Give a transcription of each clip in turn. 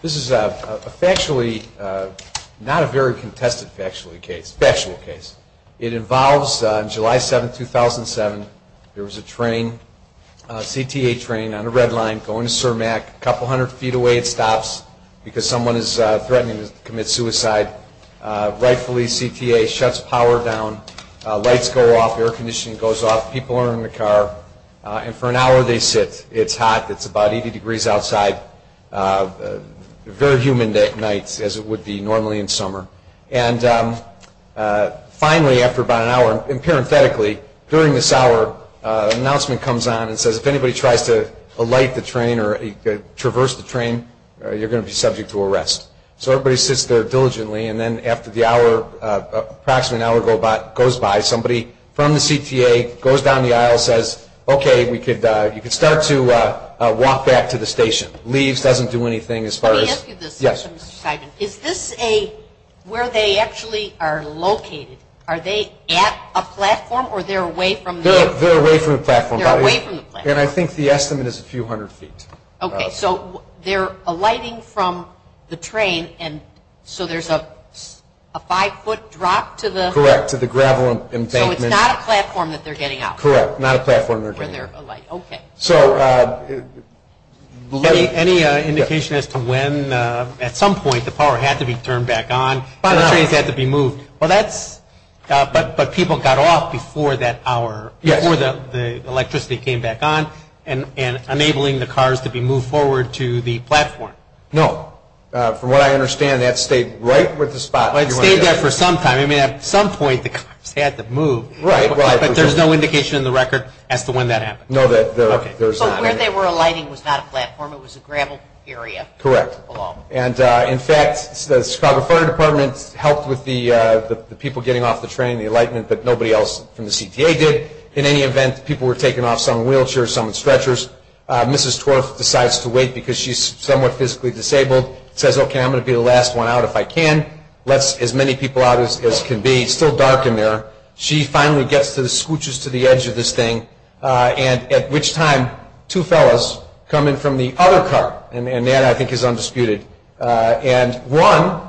This is a factually, not a very contested factually case, factual case. It involves on July 7, 2007, there was a train, a CTA train, on a red line going to Cermak. A couple hundred feet away it stops because someone is threatening to commit suicide. Right CTA shuts power down. Lights go off. Air conditioning goes off. People are in the car. And for an hour they sit. It's hot. It's about 80 degrees outside. Very humid at night as it would be normally in summer. And finally after about an hour, parenthetically, during this hour, an announcement comes on and says if anybody tries to alight the train or traverse the train, you're going to be subject to arrest. So everybody sits there diligently. And then after the hour, they're going to be arrested. An hour, approximately an hour goes by. Somebody from the CTA goes down the aisle and says, okay, you can start to walk back to the station. Leaves doesn't do anything as far as. Let me ask you this, Mr. Simon. Is this a, where they actually are located? Are they at a platform or they're away from the platform? They're away from the platform. They're away from the platform. And I think the estimate is a few hundred feet. Okay. So they're alighting from the train and so there's a five foot drop to the. Correct. To the gravel embankment. So it's not a platform that they're getting out. Correct. Not a platform they're getting out. Where they're alighting. Okay. So. Any indication as to when, at some point, the power had to be turned back on. By an hour. The trains had to be moved. Well, that's, but people got off before that hour. Yes. Before the electricity came back on and enabling the cars to be moved forward to the platform. No. From what I understand, that stayed right with the spot. It stayed there for some time. I mean, at some point, the cars had to move. Right. But there's no indication in the record as to when that happened. No. Okay. So where they were alighting was not a platform. It was a gravel area. Correct. And, in fact, the Chicago Fire Department helped with the people getting off the train, the alightment, but nobody else from the CTA did. In any event, people were taken off some wheelchairs, some stretchers. Mrs. Torf decides to wait because she's somewhat physically disabled. Says, okay, I'm going to be the last one out if I can. Lets as many people out as can be. It's still dark in there. She finally gets to the, scooches to the edge of this thing. And at which time, two fellas come in from the other car. And that, I think, is undisputed. And one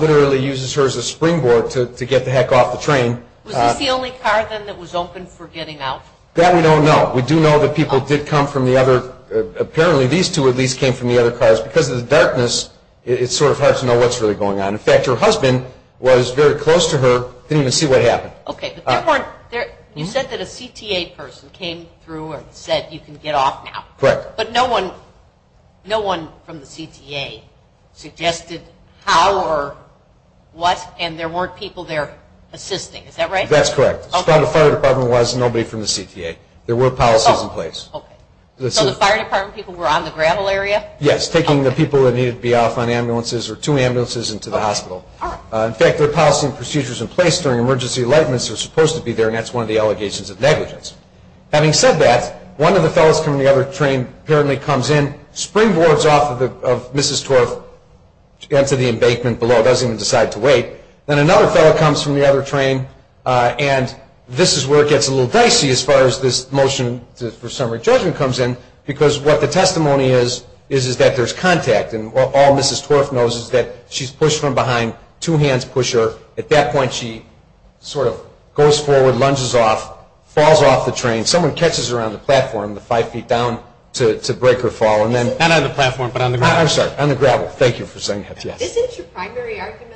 literally uses her as a springboard to get the heck off the train. Was this the only car, then, that was open for getting out? That we don't know. We do know that people did come from the other, apparently these two at least came from the other cars. Because of the darkness, it's sort of hard to know what's really going on. In fact, her husband was very close to her. Didn't even see what happened. Okay. But there weren't, you said that a CTA person came through and said you can get off now. Correct. But no one from the CTA suggested how or what, and there weren't people there assisting. Is that right? That's correct. As far as the fire department was, nobody from the CTA. There were policies in place. Okay. So the fire department people were on the gravel area? Yes, taking the people that needed to be off on ambulances or two ambulances into the hospital. In fact, there are policy and procedures in place during emergency lightments that are supposed to be there, and that's one of the allegations of negligence. Having said that, one of the fellows from the other train apparently comes in, springboards off of Mrs. Torf into the embankment below, doesn't even decide to wait. Then another fellow comes from the other train, and this is where it gets a little dicey as far as this motion for summary judgment comes in, because what the testimony is is that there's contact, and all Mrs. Torf knows is that she's pushed from behind, two hands push her. At that point she sort of goes forward, lunges off, falls off the train. Someone catches her on the platform five feet down to break her fall. Not on the platform, but on the gravel. I'm sorry, on the gravel. Thank you for saying that. Isn't your primary argument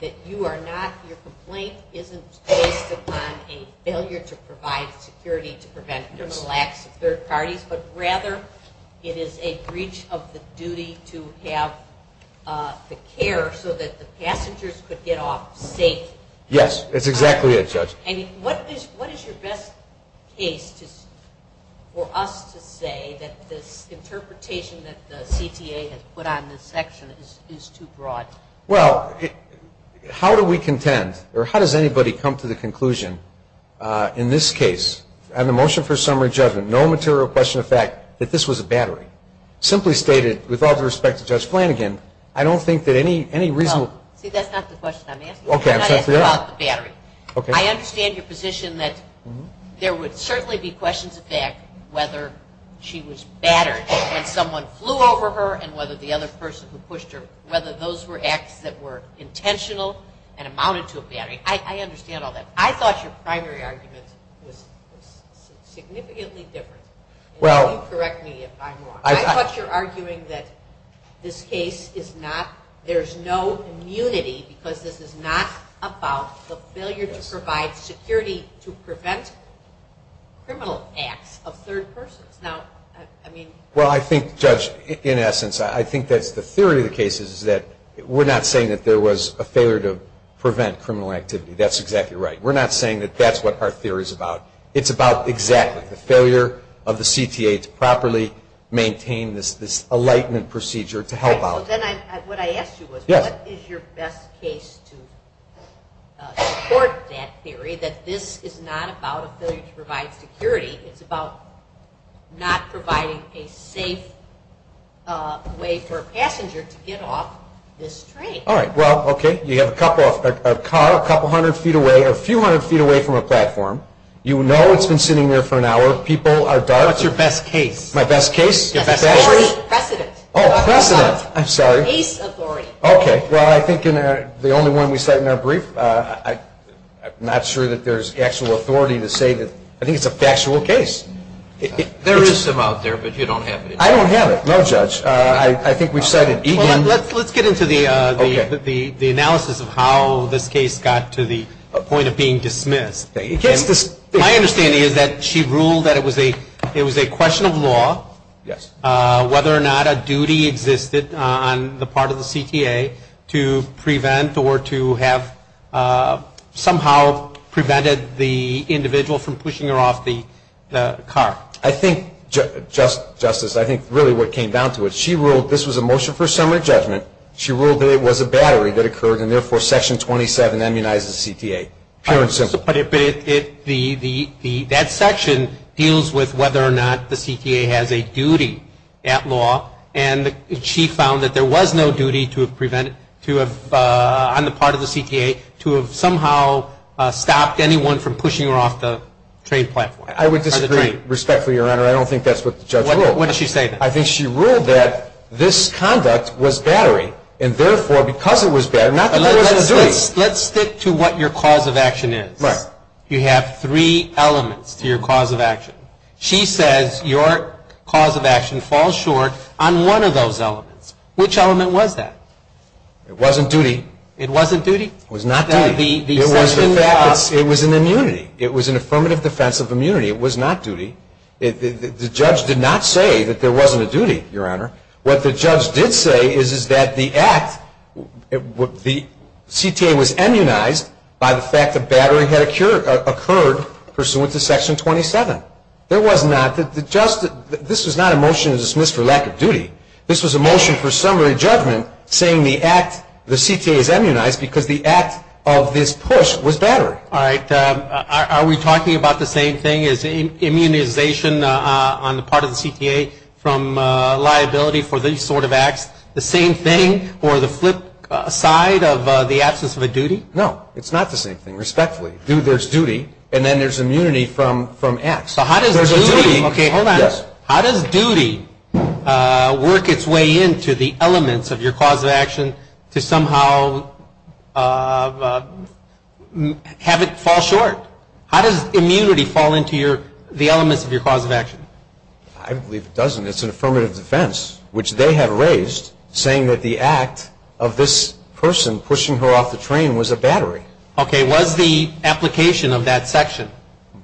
that you are not, your complaint isn't based upon a failure to provide security to prevent criminal acts of third parties, but rather it is a breach of the duty to have the care so that the passengers could get off safe? Yes, that's exactly it, Judge. What is your best case for us to say that this interpretation that the CTA has put on this section is too broad? Well, how do we contend, or how does anybody come to the conclusion in this case, on the motion for summary judgment, no material question of fact, that this was a battery? Simply stated, with all due respect to Judge Flanagan, I don't think that any reasonable. See, that's not the question I'm asking. Okay. I'm not asking about the battery. Okay. I understand your position that there would certainly be questions of fact whether she was battered when someone flew over her and whether the other person who pushed her, whether those were acts that were intentional and amounted to a battery. I understand all that. I thought your primary argument was significantly different. You can correct me if I'm wrong. I thought you were arguing that this case is not, there's no immunity because this is not about the failure to provide security to prevent criminal acts of third persons. Now, I mean. Well, I think, Judge, in essence, I think that the theory of the case is that we're not saying that there was a failure to prevent criminal activity. That's exactly right. We're not saying that that's what our theory is about. It's about exactly the failure of the CTA to properly maintain this enlightenment procedure to help out. Then what I asked you was what is your best case to support that theory, that this is not about a failure to provide security. It's about not providing a safe way for a passenger to get off this train. All right. Well, okay. You have a car a couple hundred feet away or a few hundred feet away from a platform. You know it's been sitting there for an hour. People are dark. What's your best case? My best case? Your best case? Precedent. Oh, precedent. I'm sorry. Case authority. Okay. Well, I think the only one we cite in our brief, I'm not sure that there's actual authority to say that. I think it's a factual case. There is some out there, but you don't have it. I don't have it. No, Judge. I think we cited Eden. Let's get into the analysis of how this case got to the point of being dismissed. My understanding is that she ruled that it was a question of law, whether or not a duty existed on the part of the CTA to prevent or to have somehow prevented the individual from pushing her off the car. I think, Justice, I think really what came down to it, she ruled this was a motion for summary judgment. She ruled that it was a battery that occurred and, therefore, Section 27 immunizes the CTA. Pure and simple. But that section deals with whether or not the CTA has a duty at law, and she found that there was no duty to have prevented, on the part of the CTA, to have somehow stopped anyone from pushing her off the train platform. I would disagree, respectfully, Your Honor. I don't think that's what the judge ruled. What did she say then? I think she ruled that this conduct was battery and, therefore, because it was battery, not that there wasn't a duty. Let's stick to what your cause of action is. Right. You have three elements to your cause of action. She says your cause of action falls short on one of those elements. Which element was that? It wasn't duty. It wasn't duty? It was not duty. It was an immunity. It was an affirmative defense of immunity. It was not duty. The judge did not say that there wasn't a duty, Your Honor. What the judge did say is that the act, the CTA was immunized by the fact that battery had occurred pursuant to Section 27. There was not, this was not a motion to dismiss for lack of duty. This was a motion for summary judgment saying the CTA is immunized because the act of this push was battery. All right. Are we talking about the same thing as immunization on the part of the CTA from liability for these sort of acts, the same thing or the flip side of the absence of a duty? No. It's not the same thing, respectfully. There's duty, and then there's immunity from acts. There's a duty. Okay, hold on. Yes. work its way into the elements of your cause of action to somehow have it fall short? How does immunity fall into the elements of your cause of action? I believe it doesn't. It's an affirmative defense, which they have raised, saying that the act of this person pushing her off the train was a battery. Okay, was the application of that section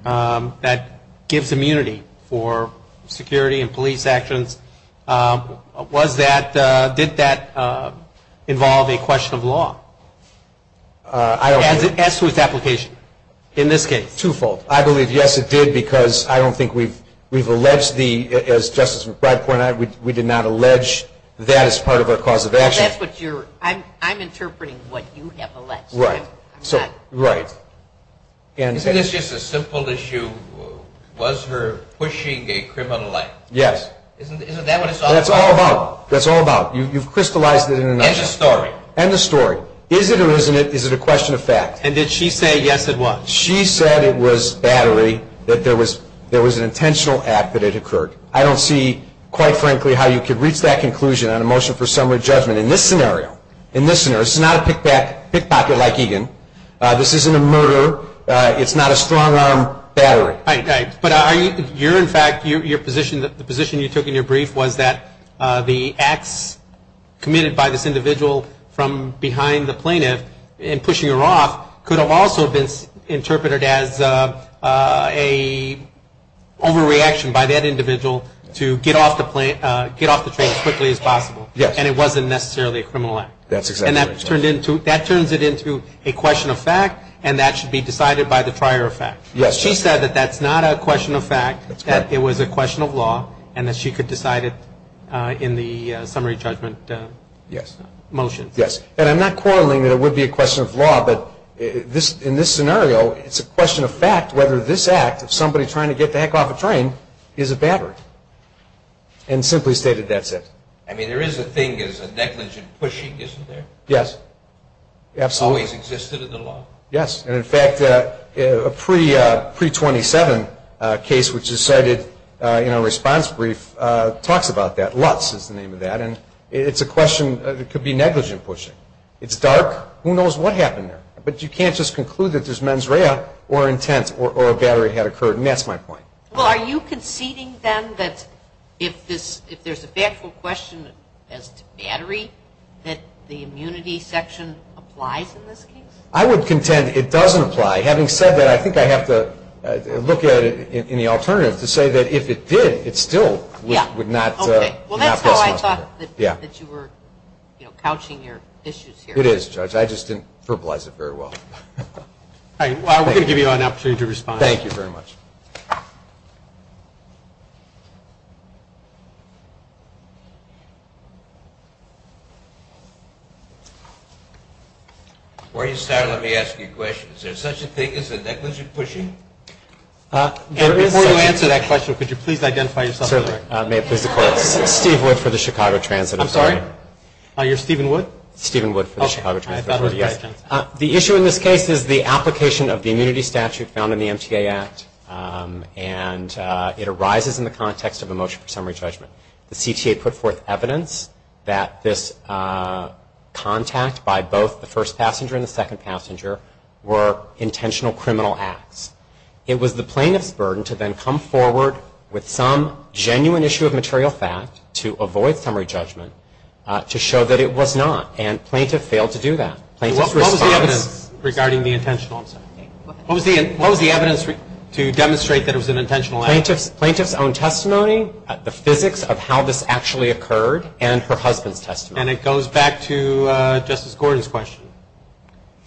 that gives immunity for security and police actions, did that involve a question of law as to its application in this case? Twofold. I believe, yes, it did because I don't think we've alleged the, as Justice McBride pointed out, we did not allege that as part of our cause of action. That's what you're, I'm interpreting what you have alleged. Right. Right. Isn't this just a simple issue? Was her pushing a criminal act? Yes. Isn't that what it's all about? That's all about. That's all about. You've crystallized it in a nutshell. And the story. And the story. Is it or isn't it, is it a question of fact? And did she say, yes, it was? She said it was battery, that there was an intentional act that had occurred. I don't see, quite frankly, how you could reach that conclusion on a motion for summary judgment. In this scenario, in this scenario, it's not a pickpocket like Egan. This isn't a murder. It's not a strong-arm battery. But you're, in fact, your position, the position you took in your brief was that the acts committed by this individual from behind the plaintiff in pushing her off could have also been interpreted as an overreaction by that individual to get off the train as quickly as possible. And it wasn't necessarily a criminal act. And that turns it into a question of fact, and that should be decided by the prior effect. She said that that's not a question of fact, that it was a question of law, and that she could decide it in the summary judgment motion. Yes. And I'm not quarreling that it would be a question of law, but in this scenario, it's a question of fact whether this act of somebody trying to get the heck off a train is a battery. And simply stated, that's it. I mean, there is a thing as a negligent pushing, isn't there? Yes. Absolutely. Always existed in the law. Yes. And, in fact, a pre-27 case which is cited in our response brief talks about that. Lutz is the name of that. And it's a question that could be negligent pushing. It's dark. Who knows what happened there. But you can't just conclude that there's mens rea or intent or a battery had occurred, and that's my point. Well, are you conceding, then, that if there's a factual question as to battery, that the immunity section applies in this case? I would contend it doesn't apply. Having said that, I think I have to look at it in the alternative to say that if it did, it still would not. Okay. Well, that's how I thought that you were, you know, couching your issues here. It is, Judge. I just didn't verbalize it very well. All right. We're going to give you an opportunity to respond. Thank you very much. Before you start, let me ask you a question. Is there such a thing as a negligent pushing? Before you answer that question, could you please identify yourself? Certainly. Steve Wood for the Chicago Transit Authority. I'm sorry? You're Stephen Wood? Stephen Wood for the Chicago Transit Authority. The issue in this case is the application of the immunity statute found in the MTA Act, and it arises in the context of a motion for summary judgment. The CTA put forth evidence that this contact by both the first passenger and the second passenger were intentional criminal acts. It was the plaintiff's burden to then come forward with some genuine issue of material fact to avoid summary judgment to show that it was not, and plaintiff failed to do that. What was the evidence regarding the intentional? What was the evidence to demonstrate that it was an intentional act? Plaintiff's own testimony, the physics of how this actually occurred, and her husband's testimony. And it goes back to Justice Gordon's question.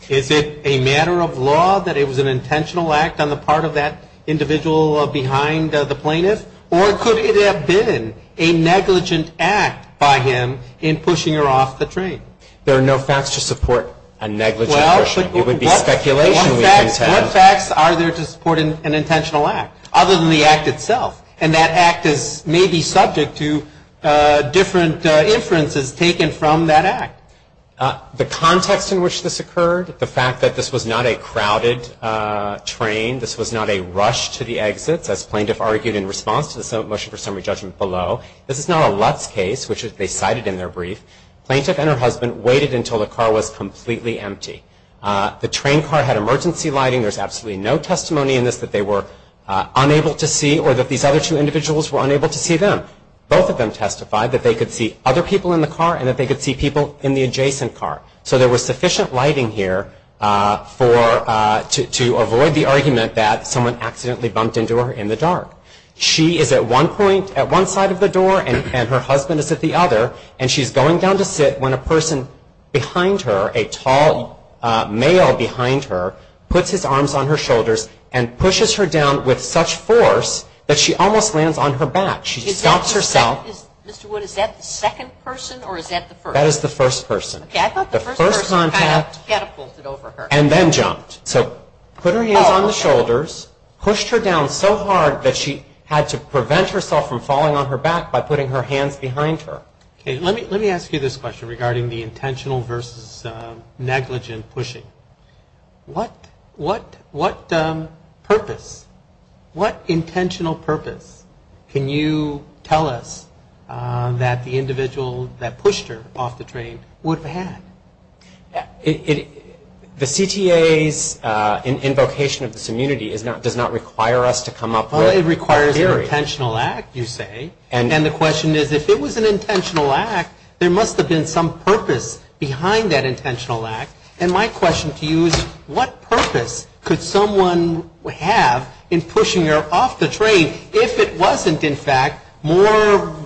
Is it a matter of law that it was an intentional act on the part of that individual behind the plaintiff, or could it have been a negligent act by him in pushing her off the train? There are no facts to support a negligent motion. It would be speculation. What facts are there to support an intentional act other than the act itself? And that act may be subject to different inferences taken from that act. The context in which this occurred, the fact that this was not a crowded train, this was not a rush to the exits as plaintiff argued in response to the motion for summary judgment below. This is not a Lutz case, which they cited in their brief. Plaintiff and her husband waited until the car was completely empty. The train car had emergency lighting. There's absolutely no testimony in this that they were unable to see or that these other two individuals were unable to see them. Both of them testified that they could see other people in the car and that they could see people in the adjacent car. So there was sufficient lighting here to avoid the argument that someone accidentally bumped into her in the dark. She is at one point at one side of the door and her husband is at the other, and she's going down to sit when a person behind her, a tall male behind her, puts his arms on her shoulders and pushes her down with such force that she almost lands on her back. She stops herself. Mr. Wood, is that the second person or is that the first? That is the first person. Okay. I thought the first person kind of catapulted over her. And then jumped. So put her hands on the shoulders, pushed her down so hard that she had to prevent herself from falling on her back by putting her hands behind her. Okay. Let me ask you this question regarding the intentional versus negligent pushing. What purpose, what intentional purpose can you tell us that the individual that pushed her off the train would have had? The CTA's invocation of this immunity does not require us to come up with a theory. Well, it requires an intentional act, you say. And the question is if it was an intentional act, there must have been some purpose behind that intentional act. And my question to you is what purpose could someone have in pushing her off the train if it wasn't, in fact, more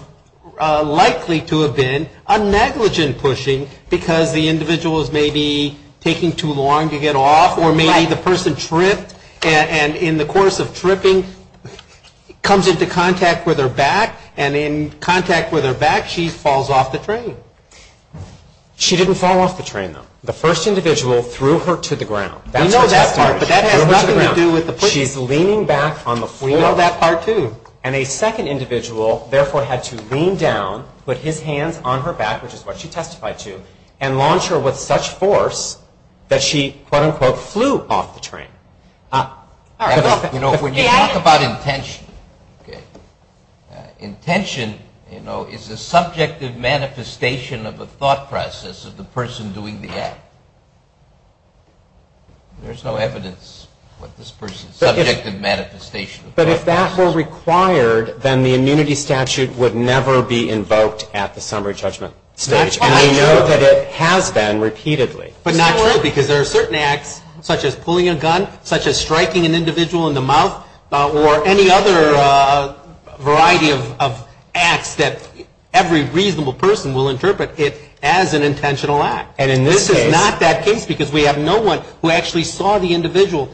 likely to have been a negligent pushing because the individual was maybe taking too long to get off or maybe the person tripped and in the course of tripping comes into contact with her back and in contact with her back she falls off the train. She didn't fall off the train, though. The first individual threw her to the ground. We know that part, but that has nothing to do with the pushing. She's leaning back on the floor. We know that part, too. And a second individual, therefore, had to lean down, put his hands on her back, which is what she testified to, and launch her with such force that she, quote, unquote, flew off the train. You know, when you talk about intention, okay, intention, you know, is the subject of manifestation of a thought process of the person doing the act. There's no evidence what this person's subject of manifestation of thought process is. But if that were required, then the immunity statute would never be invoked at the summary judgment stage. That's not true. And we know that it has been repeatedly. But not true because there are certain acts, such as pulling a gun, such as striking an individual in the mouth, or any other variety of acts that every reasonable person will interpret it as an intentional act. And this is not that case because we have no one who actually saw the individual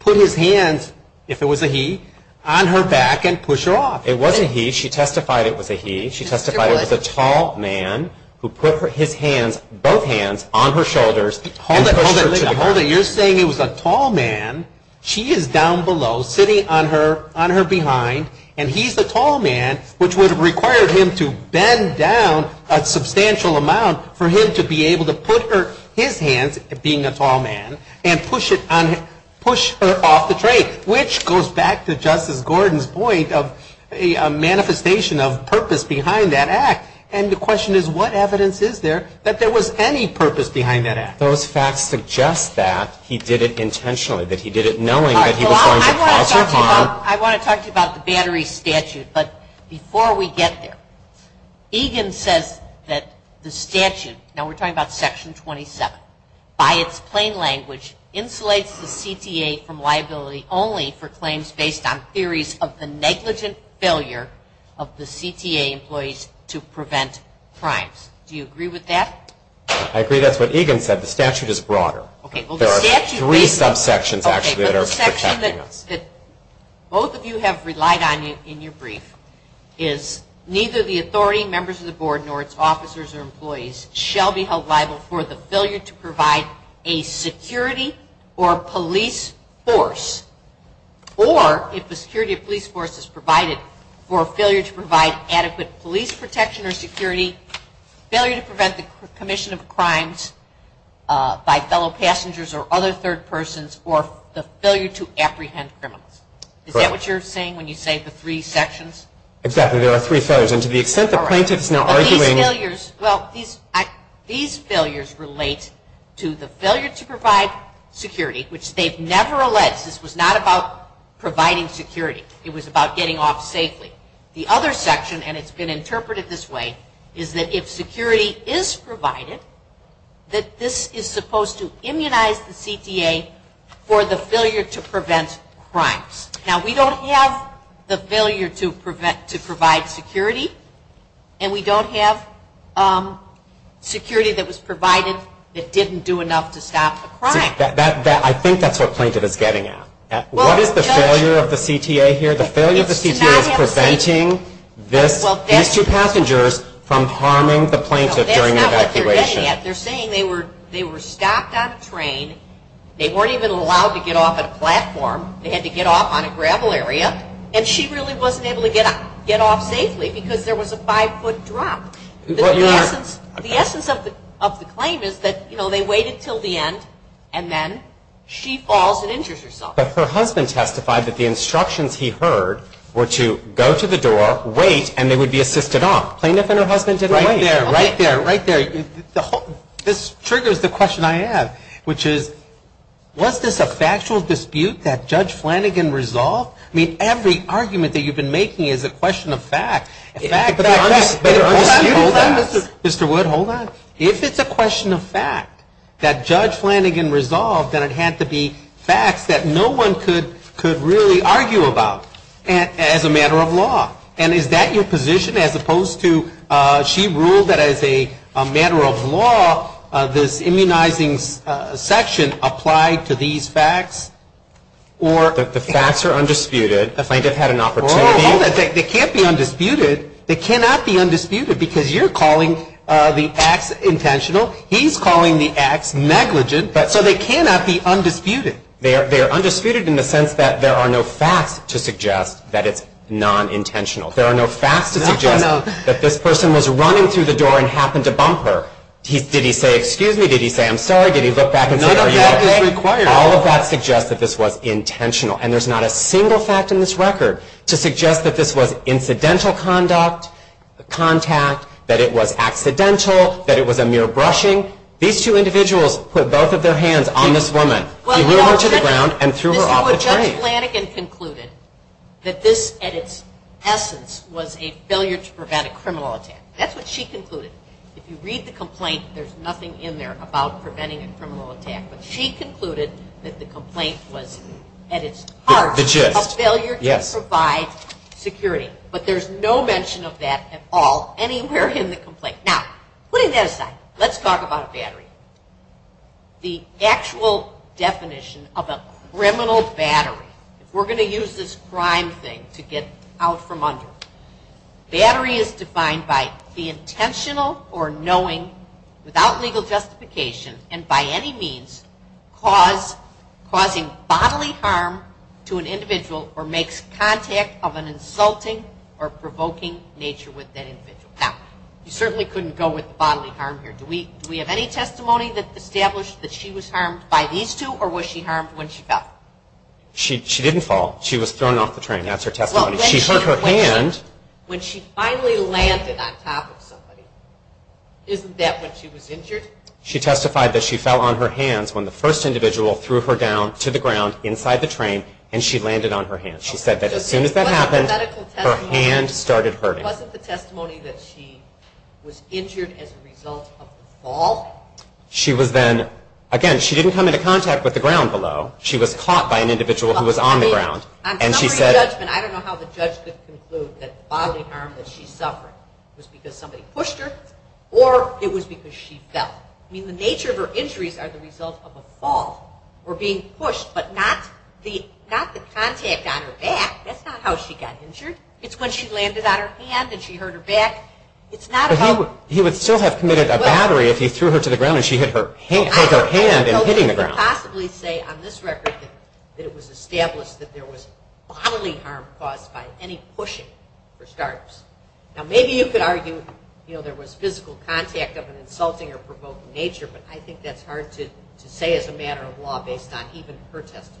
put his hands, if it was a he, on her back and push her off. It wasn't he. She testified it was a he. She testified it was a tall man who put his hands, both hands, on her shoulders and pushed her to the ground. Hold it. Hold it. You're saying it was a tall man. She is down below sitting on her behind, and he's the tall man, which would have required him to bend down a substantial amount for him to be able to put her, his hands, being a tall man, and push her off the train, which goes back to Justice Gordon's point of a manifestation of purpose behind that act. And the question is, what evidence is there that there was any purpose behind that act? Those facts suggest that he did it intentionally, that he did it knowing that he was going to cause her harm. I want to talk to you about the Battery Statute, but before we get there, Egan says that the statute, now we're talking about Section 27, by its plain language insulates the CTA from liability only for claims based on theories of the negligent failure of the CTA employees to prevent crimes. Do you agree with that? I agree. That's what Egan said. The statute is broader. There are three subsections actually that are protecting us. The section that both of you have relied on in your brief is, neither the authority, members of the board, nor its officers or employees, shall be held liable for the failure to provide a security or police force, or if the security or police force is provided, for failure to provide adequate police protection or security, failure to prevent the commission of crimes by fellow passengers or other third persons, or the failure to apprehend criminals. Is that what you're saying when you say the three sections? Exactly. There are three failures, and to the extent the plaintiff is now arguing. These failures relate to the failure to provide security, which they've never alleged. This was not about providing security. It was about getting off safely. The other section, and it's been interpreted this way, is that if security is provided, that this is supposed to immunize the CTA for the failure to prevent crimes. Now, we don't have the failure to provide security, and we don't have security that was provided that didn't do enough to stop a crime. I think that's what plaintiff is getting at. What is the failure of the CTA here? The failure of the CTA is preventing these two passengers from harming the plaintiff during an evacuation. That's not what they're getting at. They're saying they were stopped on a train. They weren't even allowed to get off at a platform. They had to get off on a gravel area, and she really wasn't able to get off safely because there was a five-foot drop. The essence of the claim is that they waited until the end, and then she falls and injures herself. But her husband testified that the instructions he heard were to go to the door, wait, and they would be assisted off. Plaintiff and her husband didn't wait. Right there. Right there. Right there. This triggers the question I have, which is, was this a factual dispute that Judge Flanagan resolved? I mean, every argument that you've been making is a question of fact. Hold on, Mr. Wood. Hold on. If it's a question of fact that Judge Flanagan resolved, then it had to be facts that no one could really argue about as a matter of law. And is that your position as opposed to she ruled that as a matter of law, this immunizing section applied to these facts? The facts are undisputed. The plaintiff had an opportunity. Hold it. They can't be undisputed. They cannot be undisputed because you're calling the acts intentional. He's calling the acts negligent. So they cannot be undisputed. They are undisputed in the sense that there are no facts to suggest that it's nonintentional. There are no facts to suggest that this person was running through the door and happened to bump her. Did he say, excuse me? Did he say, I'm sorry? Did he look back and say, are you okay? None of that is required. All of that suggests that this was intentional. And there's not a single fact in this record to suggest that this was incidental contact, that it was accidental, that it was a mere brushing. These two individuals put both of their hands on this woman, threw her to the ground, and threw her off the train. Judge Flanagan concluded that this, at its essence, was a failure to prevent a criminal attack. That's what she concluded. If you read the complaint, there's nothing in there about preventing a criminal attack. But she concluded that the complaint was, at its heart, a failure to provide security. But there's no mention of that at all anywhere in the complaint. Now, putting that aside, let's talk about a battery. The actual definition of a criminal battery, if we're going to use this crime thing to get out from under, battery is defined by the intentional or knowing, without legal justification, and by any means causing bodily harm to an individual or makes contact of an insulting or provoking nature with that individual. Now, you certainly couldn't go with bodily harm here. Do we have any testimony that established that she was harmed by these two, or was she harmed when she fell? She didn't fall. She was thrown off the train. That's her testimony. She hurt her hand. When she finally landed on top of somebody, isn't that when she was injured? She testified that she fell on her hands when the first individual threw her down to the ground inside the train, and she landed on her hands. She said that as soon as that happened, her hand started hurting. Wasn't the testimony that she was injured as a result of the fall? She was then, again, she didn't come into contact with the ground below. She was caught by an individual who was on the ground. I don't know how the judge could conclude that the bodily harm that she suffered was because somebody pushed her or it was because she fell. The nature of her injuries are the result of a fall or being pushed, but not the contact on her back. That's not how she got injured. It's when she landed on her hand and she hurt her back. He would still have committed a battery if he threw her to the ground and she hit her hand in hitting the ground. I can't possibly say on this record that it was established that there was bodily harm caused by any pushing or scarps. Now, maybe you could argue there was physical contact of an insulting or provoking nature, but I think that's hard to say as a matter of law based on even her testimony.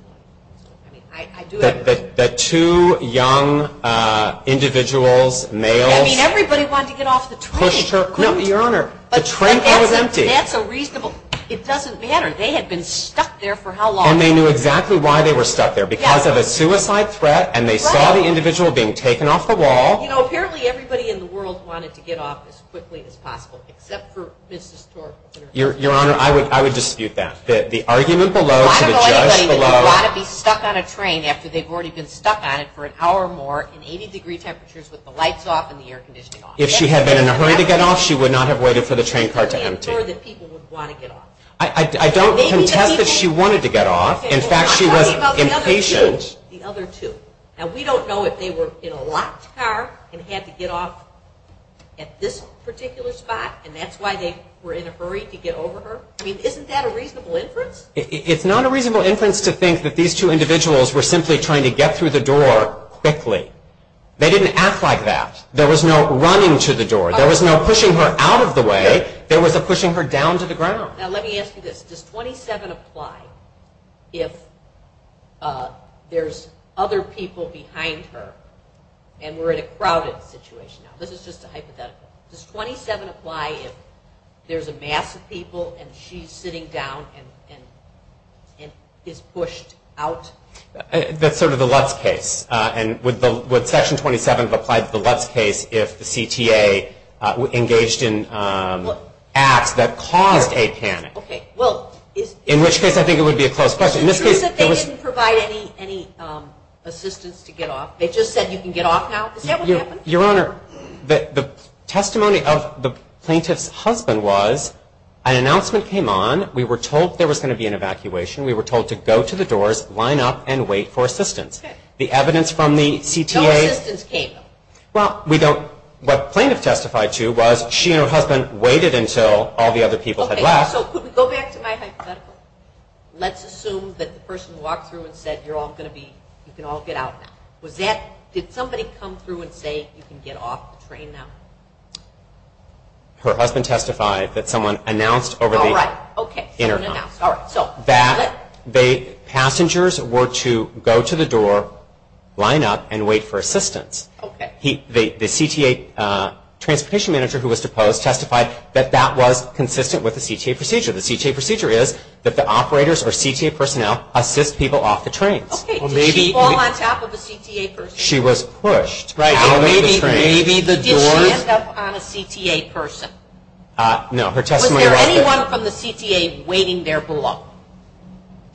The two young individuals, males, pushed her. No, Your Honor, the train car was empty. That's a reasonable, it doesn't matter. They had been stuck there for how long? And they knew exactly why they were stuck there, because of a suicide threat and they saw the individual being taken off the wall. You know, apparently everybody in the world wanted to get off as quickly as possible, except for Mrs. Thorpe. Your Honor, I would dispute that. The argument below to the judge below. Why would anybody want to be stuck on a train after they've already been stuck on it for an hour or more in 80 degree temperatures with the lights off and the air conditioning off? If she had been in a hurry to get off, she would not have waited for the train car to empty. I don't contest that she wanted to get off. In fact, she was impatient. The other two. Now, we don't know if they were in a locked car and had to get off at this particular spot and that's why they were in a hurry to get over her. I mean, isn't that a reasonable inference? It's not a reasonable inference to think that these two individuals were simply trying to get through the door quickly. They didn't act like that. There was no running to the door. There was no pushing her out of the way. There was a pushing her down to the ground. Now, let me ask you this. Does 27 apply if there's other people behind her and we're in a crowded situation? Now, this is just a hypothetical. Does 27 apply if there's a mass of people and she's sitting down and is pushed out? That's sort of the Lutz case. Would Section 27 apply to the Lutz case if the CTA engaged in acts that caused a panic? In which case, I think it would be a close question. They didn't provide any assistance to get off. They just said you can get off now. Is that what happened? Your Honor, the testimony of the plaintiff's husband was an announcement came on. We were told there was going to be an evacuation. We were told to go to the doors, line up, and wait for assistance. The evidence from the CTA... No assistance came. Well, we don't... What the plaintiff testified to was she and her husband waited until all the other people had left. Okay, so could we go back to my hypothetical? Let's assume that the person walked through and said you're all going to be... you can all get out now. Did somebody come through and say you can get off the train now? Her husband testified that someone announced over the intercom... All right, okay, someone announced. That the passengers were to go to the door, line up, and wait for assistance. The CTA transportation manager who was deposed testified that that was consistent with the CTA procedure. The CTA procedure is that the operators or CTA personnel assist people off the trains. Okay, did she fall on top of a CTA person? She was pushed out of the train. Maybe the doors... Did she end up on a CTA person? No, her testimony was that... Was anyone from the CTA waiting there below?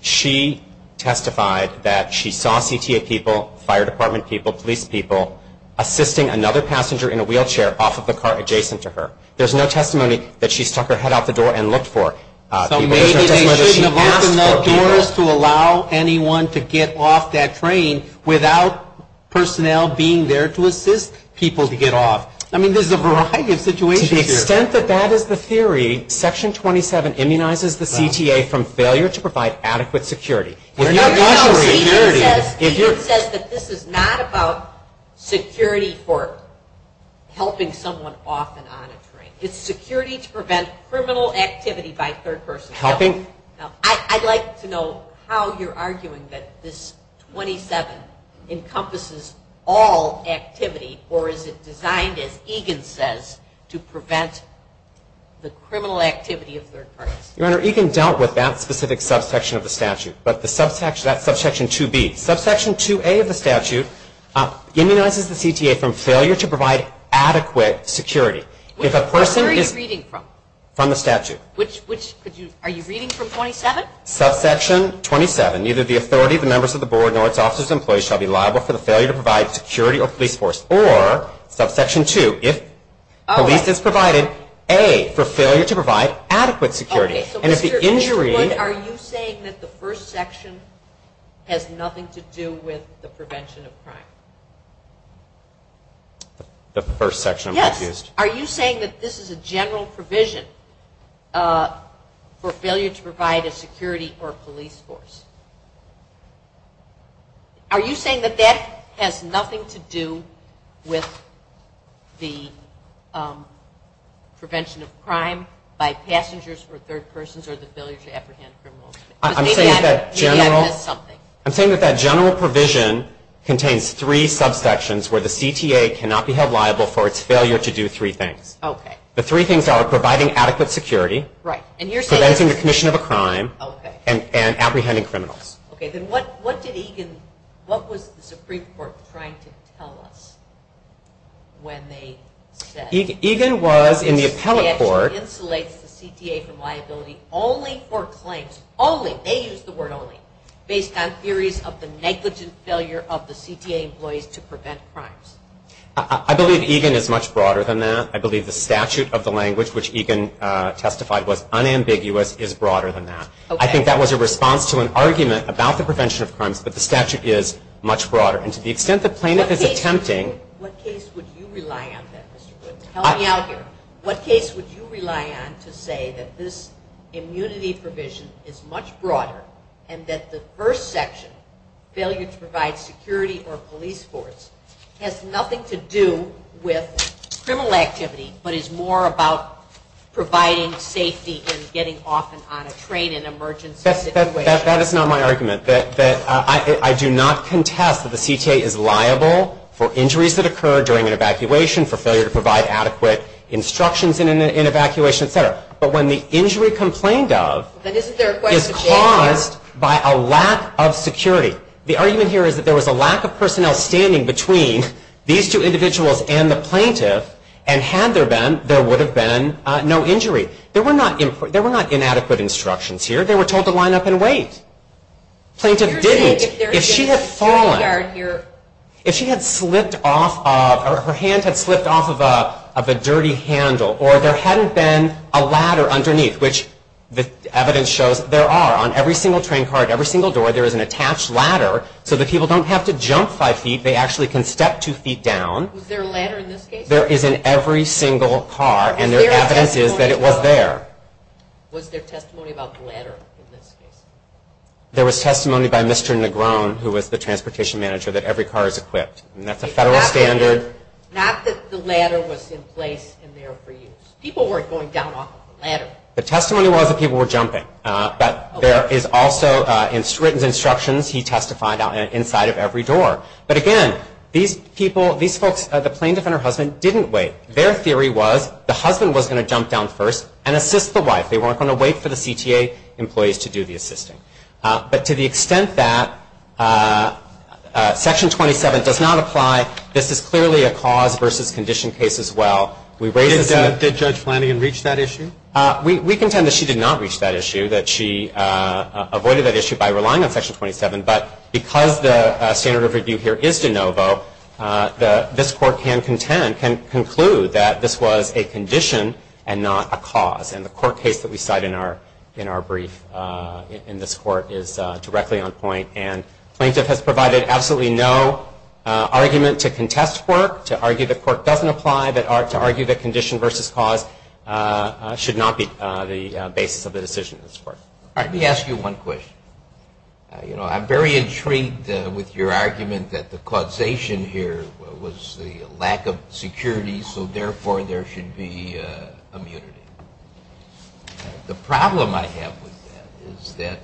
She testified that she saw CTA people, fire department people, police people, assisting another passenger in a wheelchair off of the car adjacent to her. There's no testimony that she stuck her head out the door and looked for. So maybe they shouldn't have opened the doors to allow anyone to get off that train without personnel being there to assist people to get off. I mean, there's a variety of situations here. To the extent that that is the theory, Section 27 immunizes the CTA from failure to provide adequate security. Egan says that this is not about security for helping someone off and on a train. It's security to prevent criminal activity by third person. I'd like to know how you're arguing that this 27 encompasses all activity or is it designed, as Egan says, to prevent the criminal activity of third parties? Your Honor, Egan dealt with that specific subsection of the statute. But that's Subsection 2B. Subsection 2A of the statute immunizes the CTA from failure to provide adequate security. Where are you reading from? From the statute. Are you reading from 27? Subsection 27. Neither the authority, the members of the board, nor its officers and employees shall be liable for the failure to provide security or police force. Or, Subsection 2, if police is provided, A, for failure to provide adequate security. And if the injury... Are you saying that the first section has nothing to do with the prevention of crime? The first section, I'm confused. Yes. Are you saying that this is a general provision for failure to provide a security or police force? Are you saying that that has nothing to do with the prevention of crime by passengers or third persons or the failure to apprehend criminals? Because maybe that has something. I'm saying that that general provision contains three subsections where the CTA cannot be held liable for its failure to do three things. Okay. The three things are providing adequate security... Right. ...preventing the commission of a crime... Okay. ...and apprehending criminals. Okay. Then what did Egan... What was the Supreme Court trying to tell us when they said... Egan was in the appellate court... ...the statute insulates the CTA from liability only for claims. Only. They used the word only. Based on theories of the negligent failure of the CTA employees to prevent crimes. I believe Egan is much broader than that. I believe the statute of the language which Egan testified was unambiguous is broader than that. Okay. I think that was a response to an argument about the prevention of crimes, but the statute is much broader. And to the extent the plaintiff is attempting... What case would you rely on then, Mr. Goodman? Tell me out here. What case would you rely on to say that this immunity provision is much broader and that the first section, failure to provide security or police force, has nothing to do with criminal activity but is more about providing safety and getting off and on a train in an emergency situation? That is not my argument. I do not contest that the CTA is liable for injuries that occur during an evacuation, for failure to provide adequate instructions in an evacuation, et cetera. But when the injury complained of is caused by a lack of security. The argument here is that there was a lack of personnel standing between these two individuals and the plaintiff, and had there been, there would have been no injury. There were not inadequate instructions here. They were told to line up and wait. Plaintiff didn't. If she had fallen, if she had slipped off, her hand had slipped off of a dirty handle, or there hadn't been a ladder underneath, which the evidence shows there are. On every single train car, every single door, there is an attached ladder so that people don't have to jump five feet. They actually can step two feet down. Was there a ladder in this case? There is in every single car, and their evidence is that it was there. Was there testimony about the ladder in this case? There was testimony by Mr. Negron, who was the transportation manager, that every car is equipped, and that's a federal standard. Not that the ladder was in place in there for use. People weren't going down off the ladder. The testimony was that people were jumping, but there is also written instructions he testified on inside of every door. But again, these folks, the plaintiff and her husband didn't wait. Their theory was the husband was going to jump down first and assist the wife. They weren't going to wait for the CTA employees to do the assisting. But to the extent that Section 27 does not apply, this is clearly a cause versus condition case as well. Did Judge Flanagan reach that issue? We contend that she did not reach that issue, that she avoided that issue by relying on Section 27. But because the standard of review here is de novo, this Court can conclude that this was a condition and not a cause. And the court case that we cite in our brief in this Court is directly on point. And the plaintiff has provided absolutely no argument to contest court, to argue that court doesn't apply, to argue that condition versus cause should not be the basis of the decision of this Court. Let me ask you one question. I'm very intrigued with your argument that the causation here was the lack of security, so therefore there should be immunity. The problem I have with that is that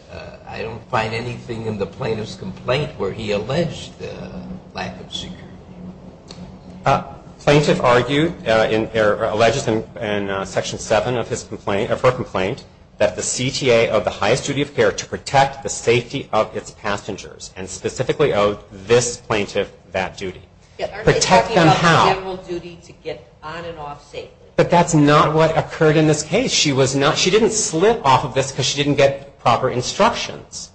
I don't find anything in the plaintiff's complaint where he alleged the lack of security. The plaintiff argued, or alleges in Section 7 of her complaint, that the CTA owed the highest duty of care to protect the safety of its passengers, and specifically owed this plaintiff that duty. Protect them how? But that's not what occurred in this case. She didn't slip off of this because she didn't get proper instructions.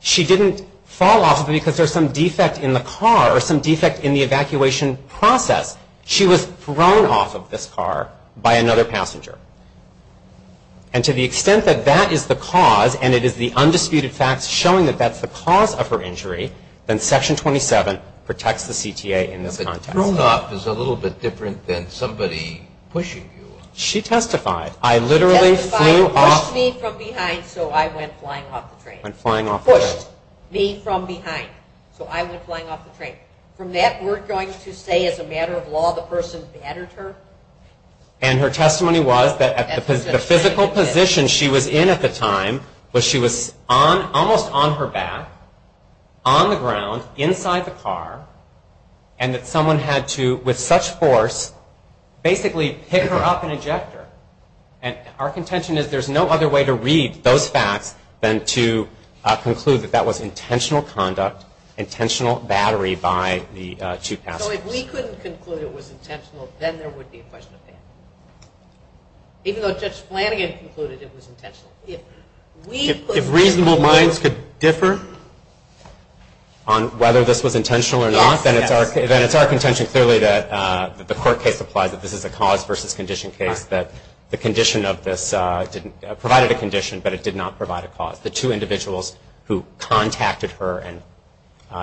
She didn't fall off of it because there's some defect in the car or some defect in the evacuation process. She was thrown off of this car by another passenger. And to the extent that that is the cause, and it is the undisputed facts showing that that's the cause of her injury, then Section 27 protects the CTA in this context. But thrown off is a little bit different than somebody pushing you. She testified. She testified, pushed me from behind, so I went flying off the train. Pushed me from behind, so I went flying off the train. From that, we're going to say, as a matter of law, the person battered her. And her testimony was that the physical position she was in at the time was she was almost on her back, on the ground, inside the car, and that someone had to, with such force, basically pick her up and eject her. And our contention is there's no other way to read those facts than to conclude that that was intentional conduct, intentional battery by the two passengers. So if we couldn't conclude it was intentional, then there would be a question of battery. Even though Judge Flanagan concluded it was intentional. If reasonable minds could differ on whether this was intentional or not, then it's our contention clearly that the court case applies, that this is a cause versus condition case, that the condition of this provided a condition, but it did not provide a cause. The two individuals who contacted her and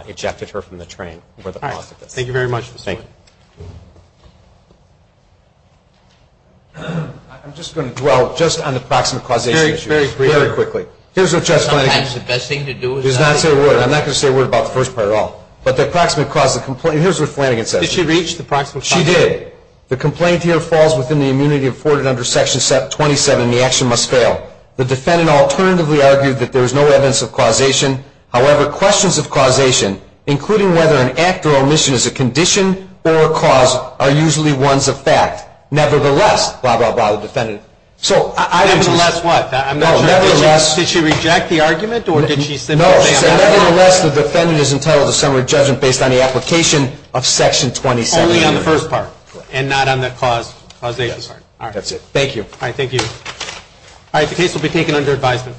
ejected her from the train were the cause of this. Thank you very much. Thank you. I'm just going to dwell just on the proximate causation issue. Very briefly. Very quickly. Sometimes the best thing to do is not say a word. I'm not going to say a word about the first part at all. But the proximate cause of the complaint, here's what Flanagan says. Did she reach the proximate cause? She did. The complaint here falls within the immunity afforded under Section 27, and the action must fail. The defendant alternatively argued that there was no evidence of causation. However, questions of causation, including whether an act or omission is a condition or a cause, are usually ones of fact. Nevertheless, blah, blah, blah, the defendant. Nevertheless what? I'm not sure. Did she reject the argument, or did she simply say, I'm not sure? No, she said, nevertheless, the defendant is entitled to summary judgment based on the application of Section 27. Only on the first part, and not on the causation part. That's it. Thank you. All right, thank you. All right, the case will be taken under advisement.